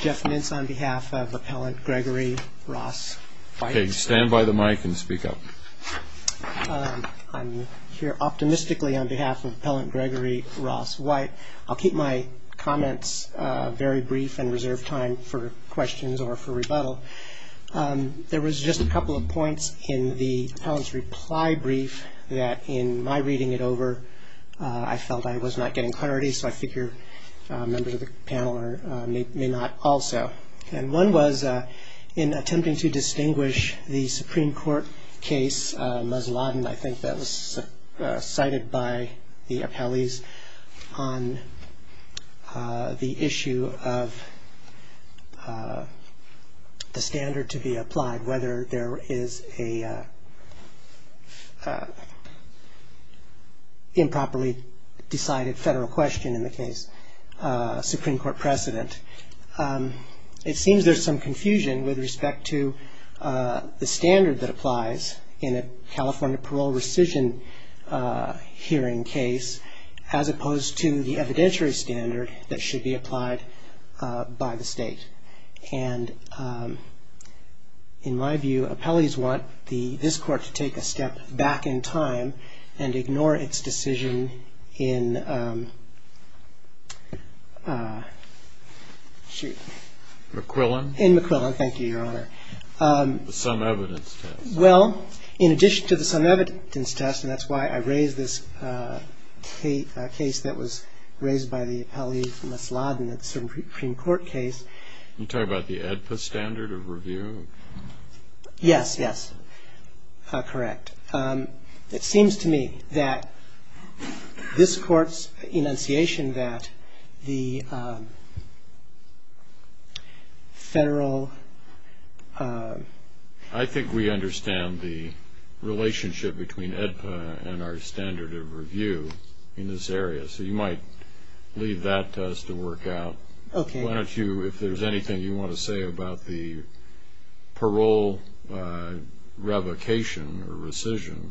Jeff Mintz on behalf of Appellant Gregory Ross White. I'll keep my comments very brief and reserve time for questions or for rebuttal. There was just a couple of points in the Appellant's reply brief that in my reading it over I felt I was not getting clarity, so I figure members of the panel may not also. One was in attempting to distinguish the Supreme Court case, Musladin, I think that was cited by the appellees, on the issue of the standard to be applied, whether there is a properly decided federal question in the case, Supreme Court precedent. It seems there's some confusion with respect to the standard that applies in a California parole rescission hearing case, as opposed to the evidentiary standard that should be applied by the state. And in my view, appellees want this court to take a decision in McQuillan. In McQuillan, thank you, Your Honor. The sum evidence test. Well, in addition to the sum evidence test, and that's why I raised this case that was raised by the appellee from Musladin, the Supreme Court case. You talk about the AEDPA standard of review? Yes, yes, correct. It seems to me that this court's enunciation that the federal... I think we understand the relationship between AEDPA and our standard of review in this area, so you might leave that to us to work out. Okay. Why don't you, if there's anything you want to say about the parole revocation or rescission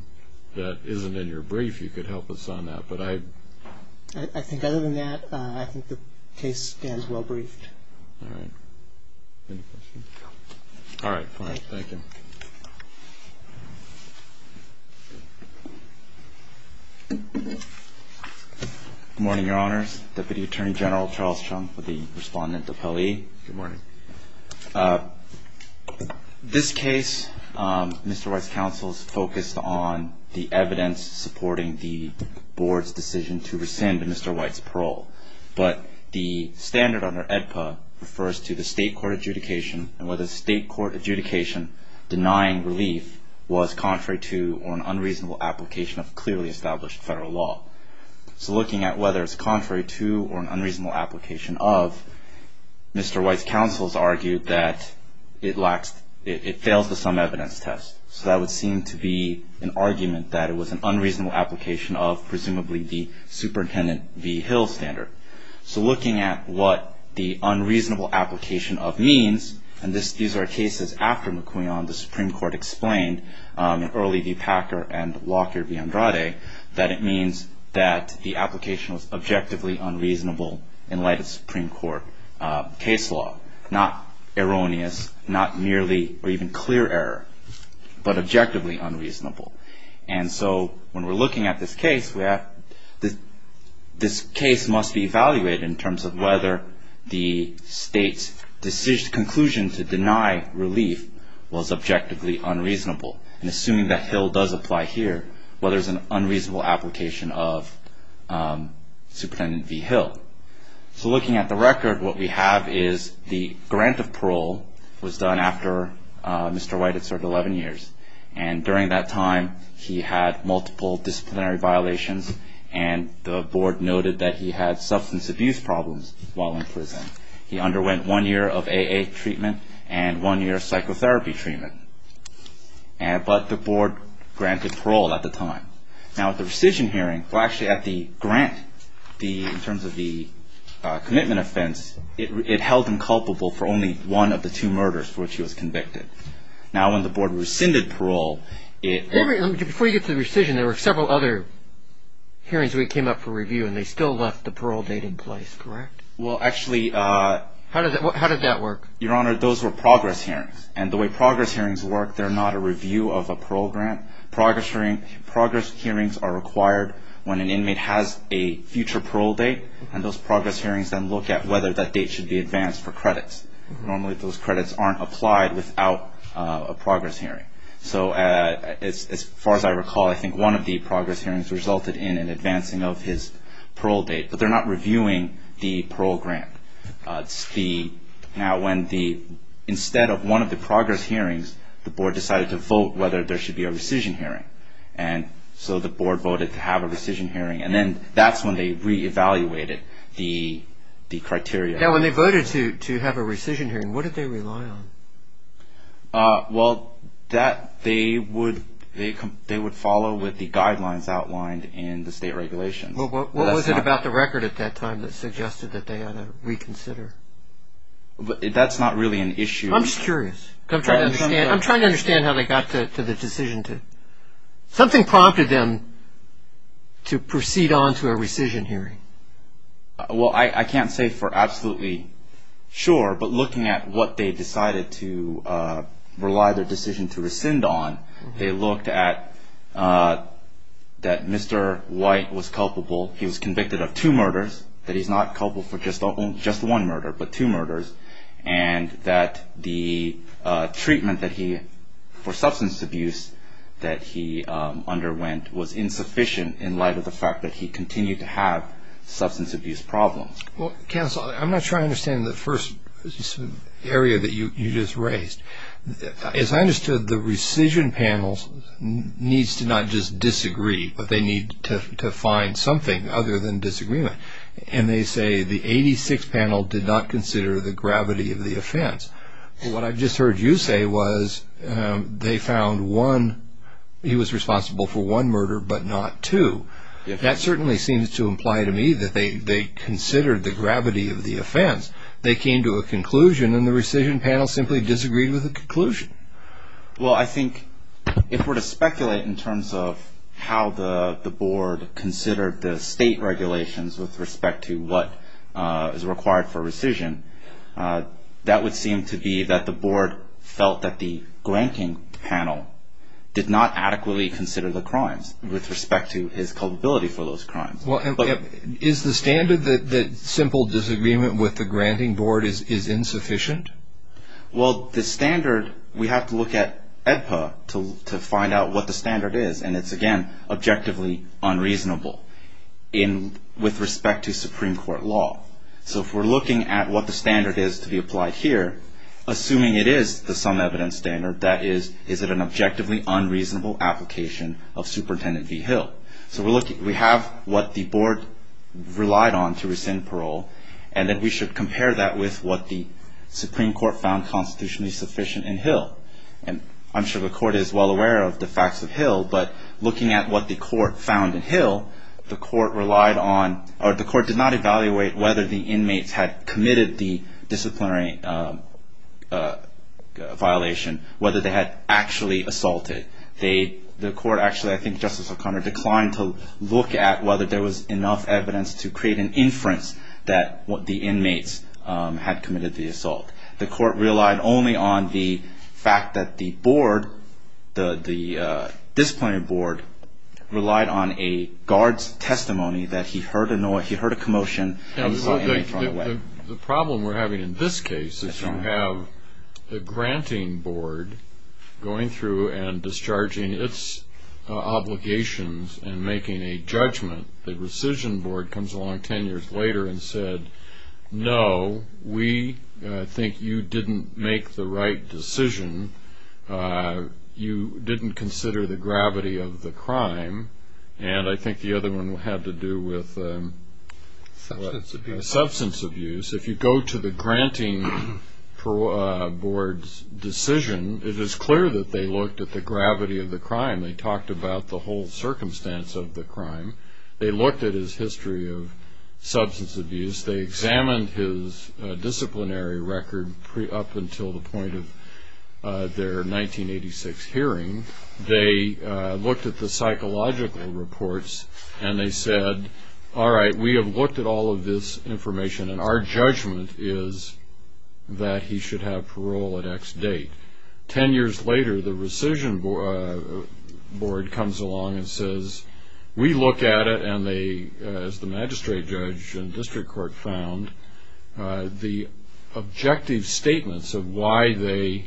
that isn't in your brief, you could help us on that. But I... I think other than that, I think the case stands well briefed. All right. Any questions? All right. All right. Thank you. Good morning, Your Honors. Deputy Attorney General Charles Chung with the Respondent Appellee. Good morning. This case, Mr. White's counsel's focused on the evidence supporting the board's decision to rescind Mr. White's parole. But the standard under AEDPA refers to the state court adjudication and whether state court adjudication denying relief was contrary to or an unreasonable application of clearly established federal law. So looking at whether it's contrary to or an unreasonable application of, Mr. White's counsel's argued that it lacks... it fails the sum evidence test. So that would seem to be an argument that it was an unreasonable application of presumably the Superintendent B. Hill standard. So looking at what the unreasonable application of means, and these are cases after McQuion, the Supreme Court explained in early the Packer and Lockyer v. Andrade, that it in light of Supreme Court case law. Not erroneous, not merely or even clear error, but objectively unreasonable. And so when we're looking at this case, this case must be evaluated in terms of whether the state's decision, conclusion to deny relief was objectively unreasonable. And assuming that Hill does apply here, whether it's an So looking at the record, what we have is the grant of parole was done after Mr. White had served 11 years. And during that time, he had multiple disciplinary violations and the board noted that he had substance abuse problems while in prison. He underwent one year of AA treatment and one year of psychotherapy treatment. But the board granted parole at the time. Now at the rescission hearing, well actually at the grant, in terms of the commitment offense, it held him culpable for only one of the two murders for which he was convicted. Now when the board rescinded parole, it Before you get to the rescission, there were several other hearings we came up for review and they still left the parole date in place, correct? Well actually How did that work? Your Honor, those were progress hearings. And the way progress hearings work, they're It has a future parole date and those progress hearings then look at whether that date should be advanced for credits. Normally those credits aren't applied without a progress hearing. So as far as I recall, I think one of the progress hearings resulted in an advancing of his parole date. But they're not reviewing the parole grant. Now when the, instead of one of the progress hearings, the board decided to vote whether there should be a rescission hearing. And so the board voted to have a rescission hearing and then that's when they re-evaluated the criteria. Now when they voted to have a rescission hearing, what did they rely on? Well that they would follow with the guidelines outlined in the state regulations. Well what was it about the record at that time that suggested that they ought to reconsider? That's not really an issue I'm just curious. I'm trying to understand how they got to the decision to Something prompted them to proceed on to a rescission hearing. Well I can't say for absolutely sure, but looking at what they decided to rely their decision to rescind on, they looked at that Mr. White was culpable. He was convicted of two murders. That he's not culpable for just one murder, but two murders. And that the treatment that he, for substance abuse that he underwent was insufficient in light of the fact that he continued to have substance abuse problems. Well, counsel, I'm not sure I understand the first area that you just raised. As I understood the rescission panels needs to not just disagree, but they need to find something other than disagreement. And they say the 86th panel did not consider the gravity of the offense. What I just heard you say was they found one, he was responsible for one murder, but not two. That certainly seems to imply to me that they considered the gravity of the offense. They came to a conclusion and the rescission panel simply disagreed with the conclusion. Well I think if we're to speculate in terms of how the board considered the state regulations with respect to what is required for rescission, that would seem to be that the board felt that the granting panel did not adequately consider the crimes with respect to his culpability for those crimes. Is the standard that simple disagreement with the granting board is insufficient? Well, the standard, we have to look at EDPA to find out what the standard is. And it's again, objectively unreasonable with respect to Supreme Court law. So if we're looking at what the standard is to be applied here, assuming it is the sum evidence standard, that is, is it an objectively unreasonable application of Superintendent V. Hill? So we have what the board relied on to rescind parole, and then we should compare that with what the Supreme Court found constitutionally sufficient in Hill. And I'm sure the court is well aware of the facts of Hill, but looking at what the court found in Hill, the court relied on, or the court did not evaluate whether the inmates had committed the disciplinary violation, whether they had actually assaulted. The court actually, I think Justice O'Connor, declined to look at whether there was enough evidence to create an inference that the inmates had committed the assault. The court relied only on the fact that the board, the disciplinary board relied on a guard's testimony that he heard a commotion and saw an inmate run away. The problem we're having in this case is you have a granting board going through and discharging its obligations and making a judgment. The rescission board comes along ten years later and said, no, we think you didn't make the right decision. You didn't consider the gravity of the crime. And I think the other one had to do with substance abuse. If you go to the granting board's decision, it is clear that they looked at the gravity of the crime. They examined his disciplinary record up until the point of their 1986 hearing. They looked at the psychological reports and they said, all right, we have looked at all of this information and our judgment is that he should have parole at X date. Ten years later, the rescission board comes along and says, we look at it and they, as the magistrate judge and district court found, the objective statements of why they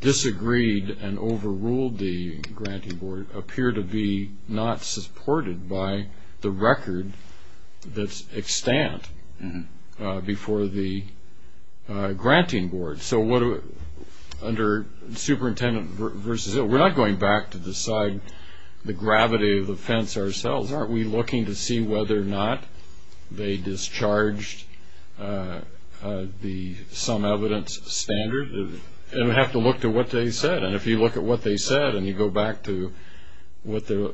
disagreed and overruled the granting board appear to be not supported by the record that's extant before the granting board. So what do, under superintendent versus, we're not going back to decide the gravity of the offense ourselves. Aren't we looking to see whether or not they discharged the some evidence standard? And we have to look to what they said. And if you look at what they said and you go back to what the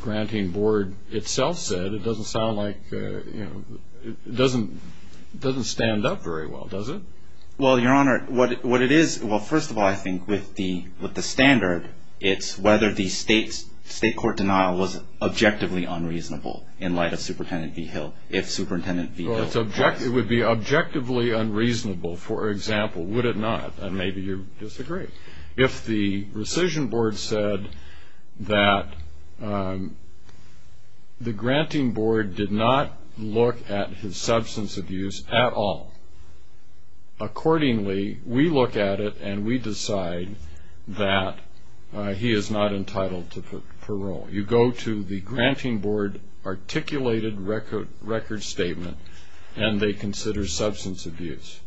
granting board itself said, it doesn't sound like, it doesn't stand up very well, does it? Well, your honor, what it is, well, first of all, I think with the standard, it's whether the state's state court denial was objectively unreasonable in light of superintendent V Hill. If superintendent V Hill. It would be objectively unreasonable, for example, would it not? And maybe you disagree. If the rescission board said that the granting board did not look at his substance abuse at all. Accordingly, we look at it and we decide that he is not entitled to parole. You go to the granting board articulated record statement and they consider substance abuse.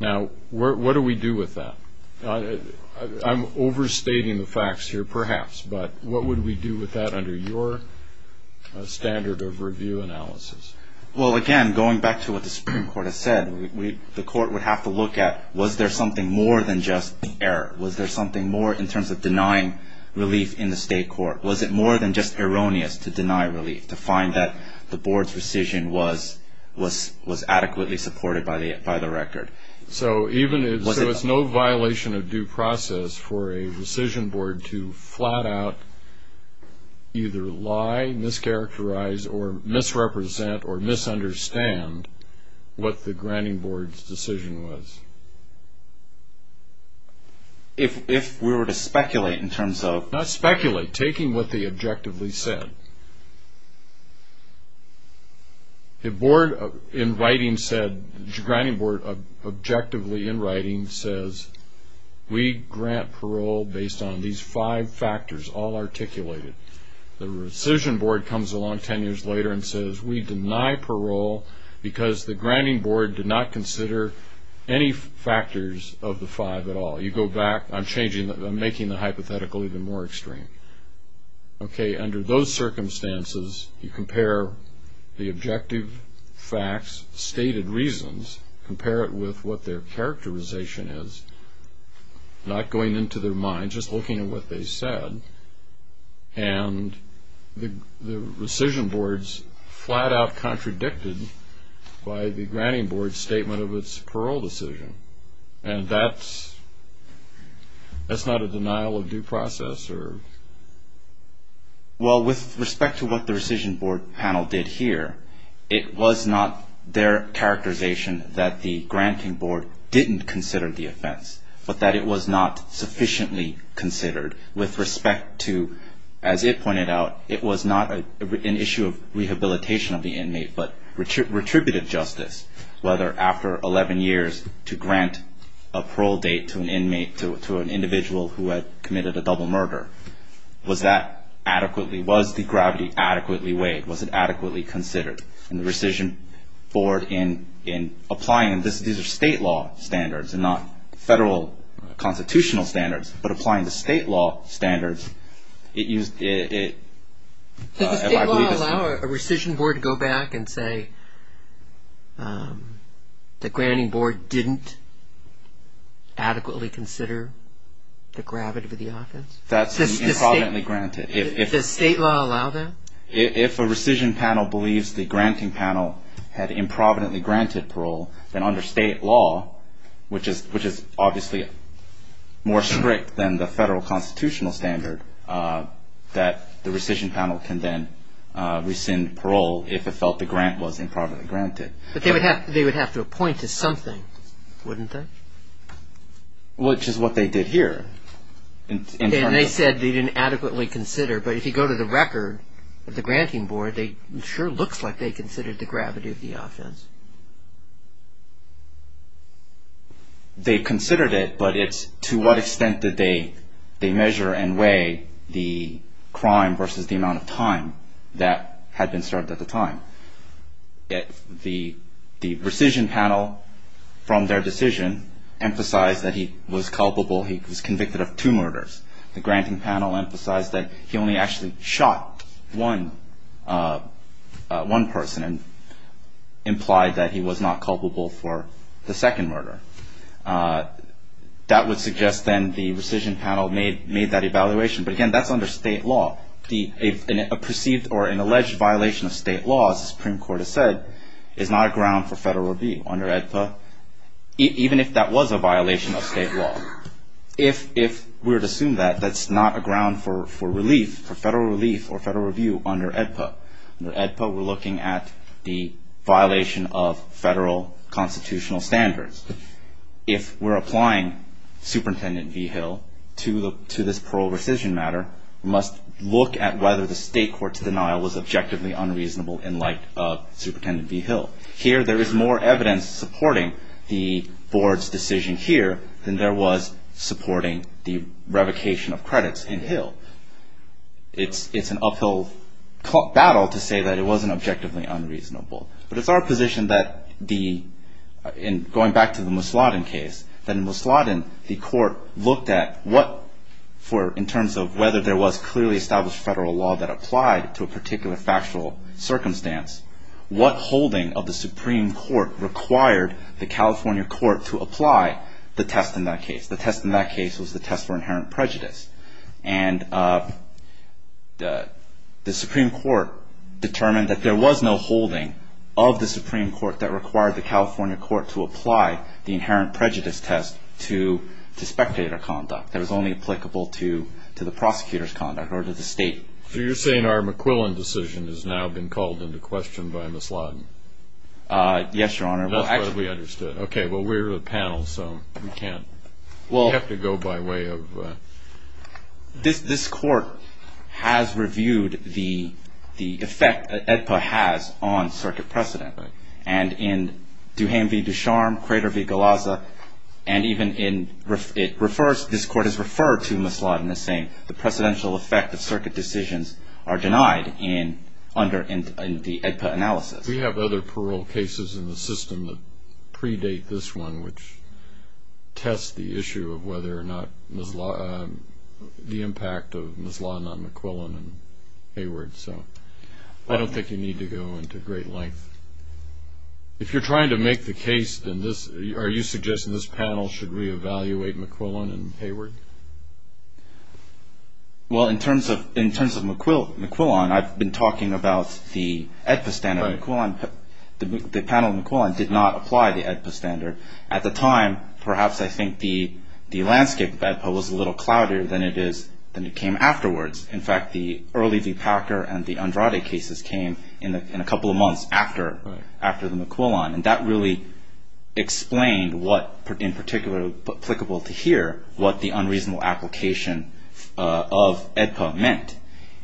Now, what do we do with that? I'm overstating the facts here, perhaps, but what would we do with that under your standard of review analysis? Well, again, going back to what the Supreme Court has said, the court would have to look at, was there something more than just error? Was there something more in terms of denying relief in the state court? Was it more than just erroneous to deny relief, to find that the board's rescission was adequately supported by the record? So it's no violation of due process for a rescission board to flat out either lie, mischaracterize, or misrepresent or misunderstand what the granting board's decision was. If we were to speculate in terms of. Not speculate, taking what they objectively said. The board in writing said, the granting board objectively in writing says, we grant parole based on these five factors, all articulated. The rescission board comes along ten years later and says, we deny parole because the granting board did not consider any factors of the five at all. You go back, I'm making the hypothetical even more extreme. Okay, under those circumstances, you compare the board, you compare it with what their characterization is, not going into their mind, just looking at what they said, and the rescission board's flat out contradicted by the granting board's statement of its parole decision. And that's, that's not a denial of due process or. Well with respect to what the rescission board panel did here, it was not their characterization that the granting board didn't consider the offense, but that it was not sufficiently considered with respect to, as it pointed out, it was not an issue of rehabilitation of the inmate, but retributive justice, whether after eleven years to grant a parole date to an inmate, to an individual who had committed a double murder. Was that adequately, was the gravity adequately weighed? Was it adequately considered? And the rescission board, in applying, these are state law standards and not federal constitutional standards, but applying the state law standards, it used, it, if I believe this. Does the state law allow a rescission board to go back and say, the granting board didn't adequately consider the gravity of the offense? That's improvidently granted. Does state law allow that? If a rescission panel believes the granting panel had improvidently granted parole, then under state law, which is, which is obviously more strict than the federal constitutional standard, that the rescission panel can then rescind parole if it felt the grant was improvidently granted. But they would have to, they would have to appoint to something, wouldn't they? Which is what they did here. And they said they didn't adequately consider, but if you go to the record of the granting board, they, it sure looks like they considered the gravity of the offense. They considered it, but it's to what extent did they, they measure and weigh the crime versus the amount of time that had been served at the time. The rescission panel, from their decision, emphasized that he was culpable, he was convicted of two murders. The granting panel emphasized that he only actually shot one, one person and implied that he was not culpable for the second murder. That would suggest then the rescission panel made, made that evaluation. But again, that's under state law. The, a perceived or an alleged violation of state law, as the Supreme Court has said, is not a ground for federal review under AEDPA, even if that was a violation of state law. If, if we're to assume that, that's not a ground for, for relief, for federal relief or federal review under AEDPA, under AEDPA we're looking at the violation of federal constitutional standards. If we're applying Superintendent Vigil to the, to this parole rescission matter, we must look at whether the state court's denial was objectively unreasonable in light of Superintendent Vigil. Here there is more evidence supporting the board's decision here than there was supporting the revocation of credits in Hill. It's, it's an uphill battle to say that it wasn't objectively unreasonable. But it's our position that the, in going back to the Musladin case, that in Musladin the court looked at what for, in terms of whether there was clearly established federal law that applied to a particular factual circumstance, what holding of the Supreme Court required the California court to apply the test in that case. The test in that case was the test for inherent prejudice. And the, the Supreme Court determined that there was no holding of the Supreme Court that required the California court to apply the inherent prejudice test to, to spectator conduct. That was only applicable to, to the prosecutor's conduct or to the state. So you're saying our McQuillan decision has now been called into question by Musladin? Yes, Your Honor. Well, actually. That's what we understood. Okay. Well, we're a panel, so we can't, we have to go by way of. This court has reviewed the, the effect that EDPA has on circuit precedent. And in Duhame v. Ducharme, Crater v. Galazza, and even in, it refers, this court has referred to Musladin as saying the precedential effect of circuit decisions are denied in, under the EDPA analysis. We have other parole cases in the system that predate this one, which test the issue of whether or not Musladin, the impact of Musladin on McQuillan and Hayward, so I don't think you need to go into great length. If you're trying to make the case in this, are you suggesting this panel should reevaluate McQuillan and Hayward? Well, in terms of, in terms of McQuillan, I've been talking about the EDPA standard. The panel in McQuillan did not apply the EDPA standard. At the time, perhaps I think the, the landscape of EDPA was a little cloudier than it is, than it came afterwards. In fact, the early v. Packer and the Andrade cases came in a couple of months after, after the McQuillan, and that really explained what, in particular, applicable to here, what the unreasonable application of EDPA meant,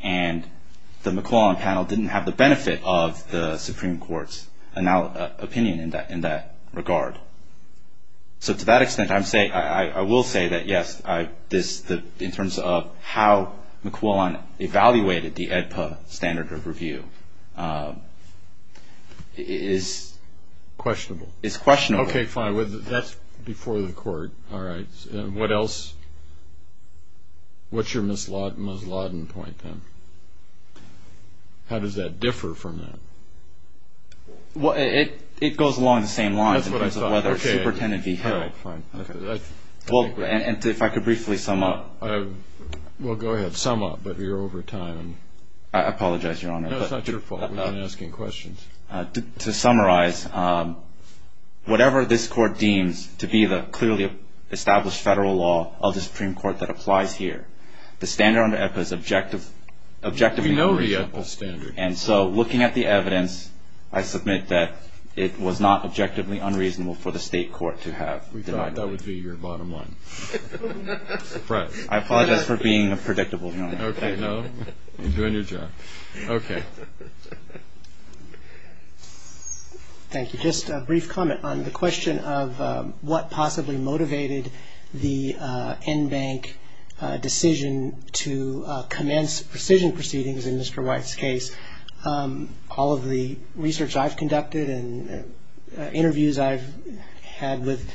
and the McQuillan panel didn't have the benefit of the Supreme Court's opinion in that, in that regard. So, so to that extent, I'm saying, I will say that yes, I, this, the, in terms of how McQuillan evaluated the EDPA standard of review is questionable. Is questionable. Okay, fine. That's before the court. All right. What else? What's your Musladin point, then? How does that differ from that? Well, it, it goes along the same lines in terms of whether a superintendent v. Hill. Okay, fine. Okay. Well, and if I could briefly sum up. Well, go ahead. Sum up. But you're over time. I apologize, Your Honor. No, it's not your fault. We're not asking questions. To summarize, whatever this court deems to be the clearly established federal law of the Supreme Court that applies here, the standard under EDPA is objective, objective and reasonable. We know the EDPA standard. And so, looking at the evidence, I submit that it was not objectively unreasonable for the state court to have denied that. We thought that would be your bottom line. I'm surprised. I apologize for being predictable, Your Honor. Okay, no. You're doing your job. Okay. Thank you. Just a brief comment on the question of what possibly motivated the NBank decision to commence precision proceedings in Mr. White's case. All of the research I've conducted and interviews I've had with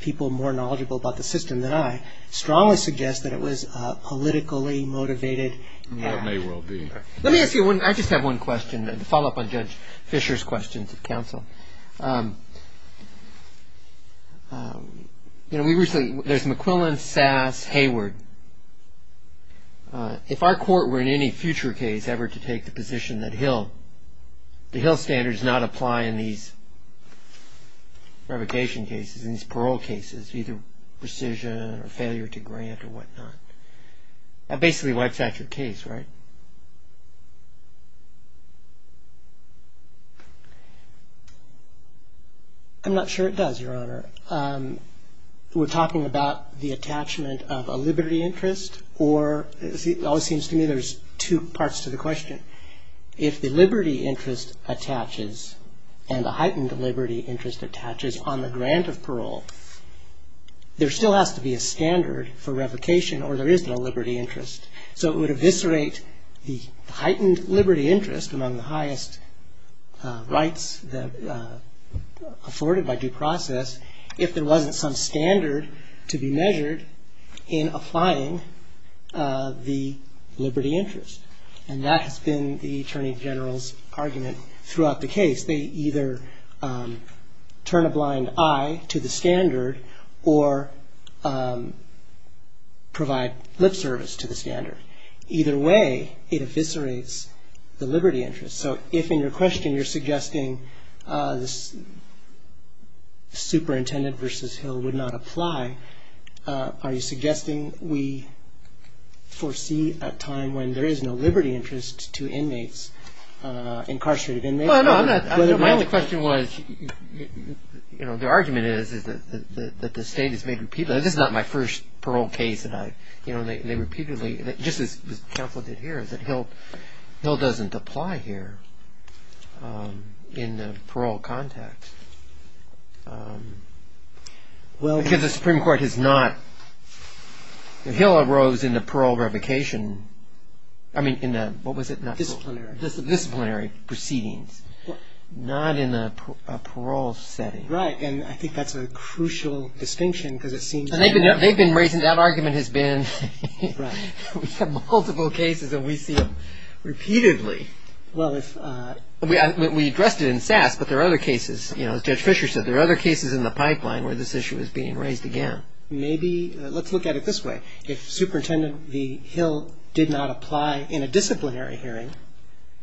people more knowledgeable about the system than I strongly suggest that it was a politically motivated act. It may well be. Let me ask you one. I just have one question to follow up on Judge Fischer's questions of counsel. You know, we recently, there's McQuillan, Sass, Hayward. If our court were in any future case ever to take the position that Hill, the Hill standards not apply in these revocation cases, in these parole cases, either precision or failure to grant or whatnot, that basically wipes out your case, right? I'm not sure it does, Your Honor. We're talking about the attachment of a liberty interest or, it always seems to me there's two parts to the question. If the liberty interest attaches and the heightened liberty interest attaches on the grant of parole, there still has to be a standard for revocation or there isn't a liberty interest. So it would eviscerate the heightened liberty interest among the highest rights afforded by due process if there wasn't some standard to be measured in applying the liberty interest. And that has been the Attorney General's argument throughout the case. They either turn a blind eye to the standard or provide lip service to the standard. Either way, it eviscerates the liberty interest. So if in your question you're suggesting the superintendent versus Hill would not apply, are you suggesting we foresee a time when there is no liberty interest to inmates, incarcerated inmates? My only question was, the argument is that the state has made repeatedly, this is not my first parole case and they repeatedly, just as counsel did here, is that Hill doesn't apply here in the parole context because the Supreme Court has not, Hill arose in the parole revocation, I mean in the disciplinary proceedings, not in a parole setting. Right. And I think that's a crucial distinction because it seems to me that They've been raising, that argument has been, we have multiple cases and we see them Well if We addressed it in SAS but there are other cases, as Judge Fisher said, there are other cases in the pipeline where this issue is being raised again. Maybe, let's look at it this way, if Superintendent V. Hill did not apply in a disciplinary hearing,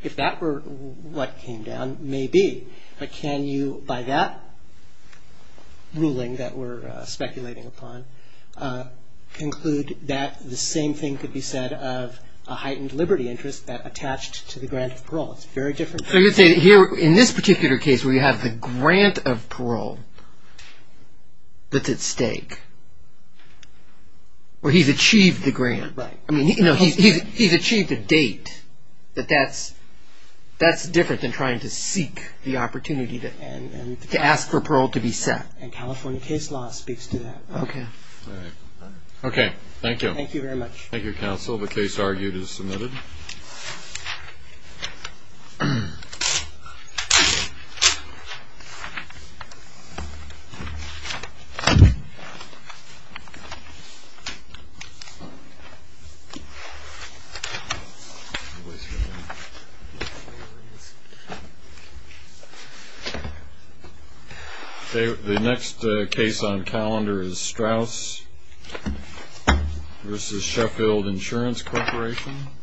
if that were what came down, maybe, but can you, by that ruling that we're speculating upon, conclude that the same thing could be said of a heightened liberty interest that is a grant of parole. It's very different. So you're saying here, in this particular case where you have the grant of parole that's at stake, where he's achieved the grant, I mean he's achieved a date, that that's different than trying to seek the opportunity to ask for parole to be set. And California case law speaks to that. Okay. Alright. Okay. Thank you. Thank you very much. Thank you counsel. The case argued is submitted. The next case on calendar is Straus v. Sheffield Insurance Corporation.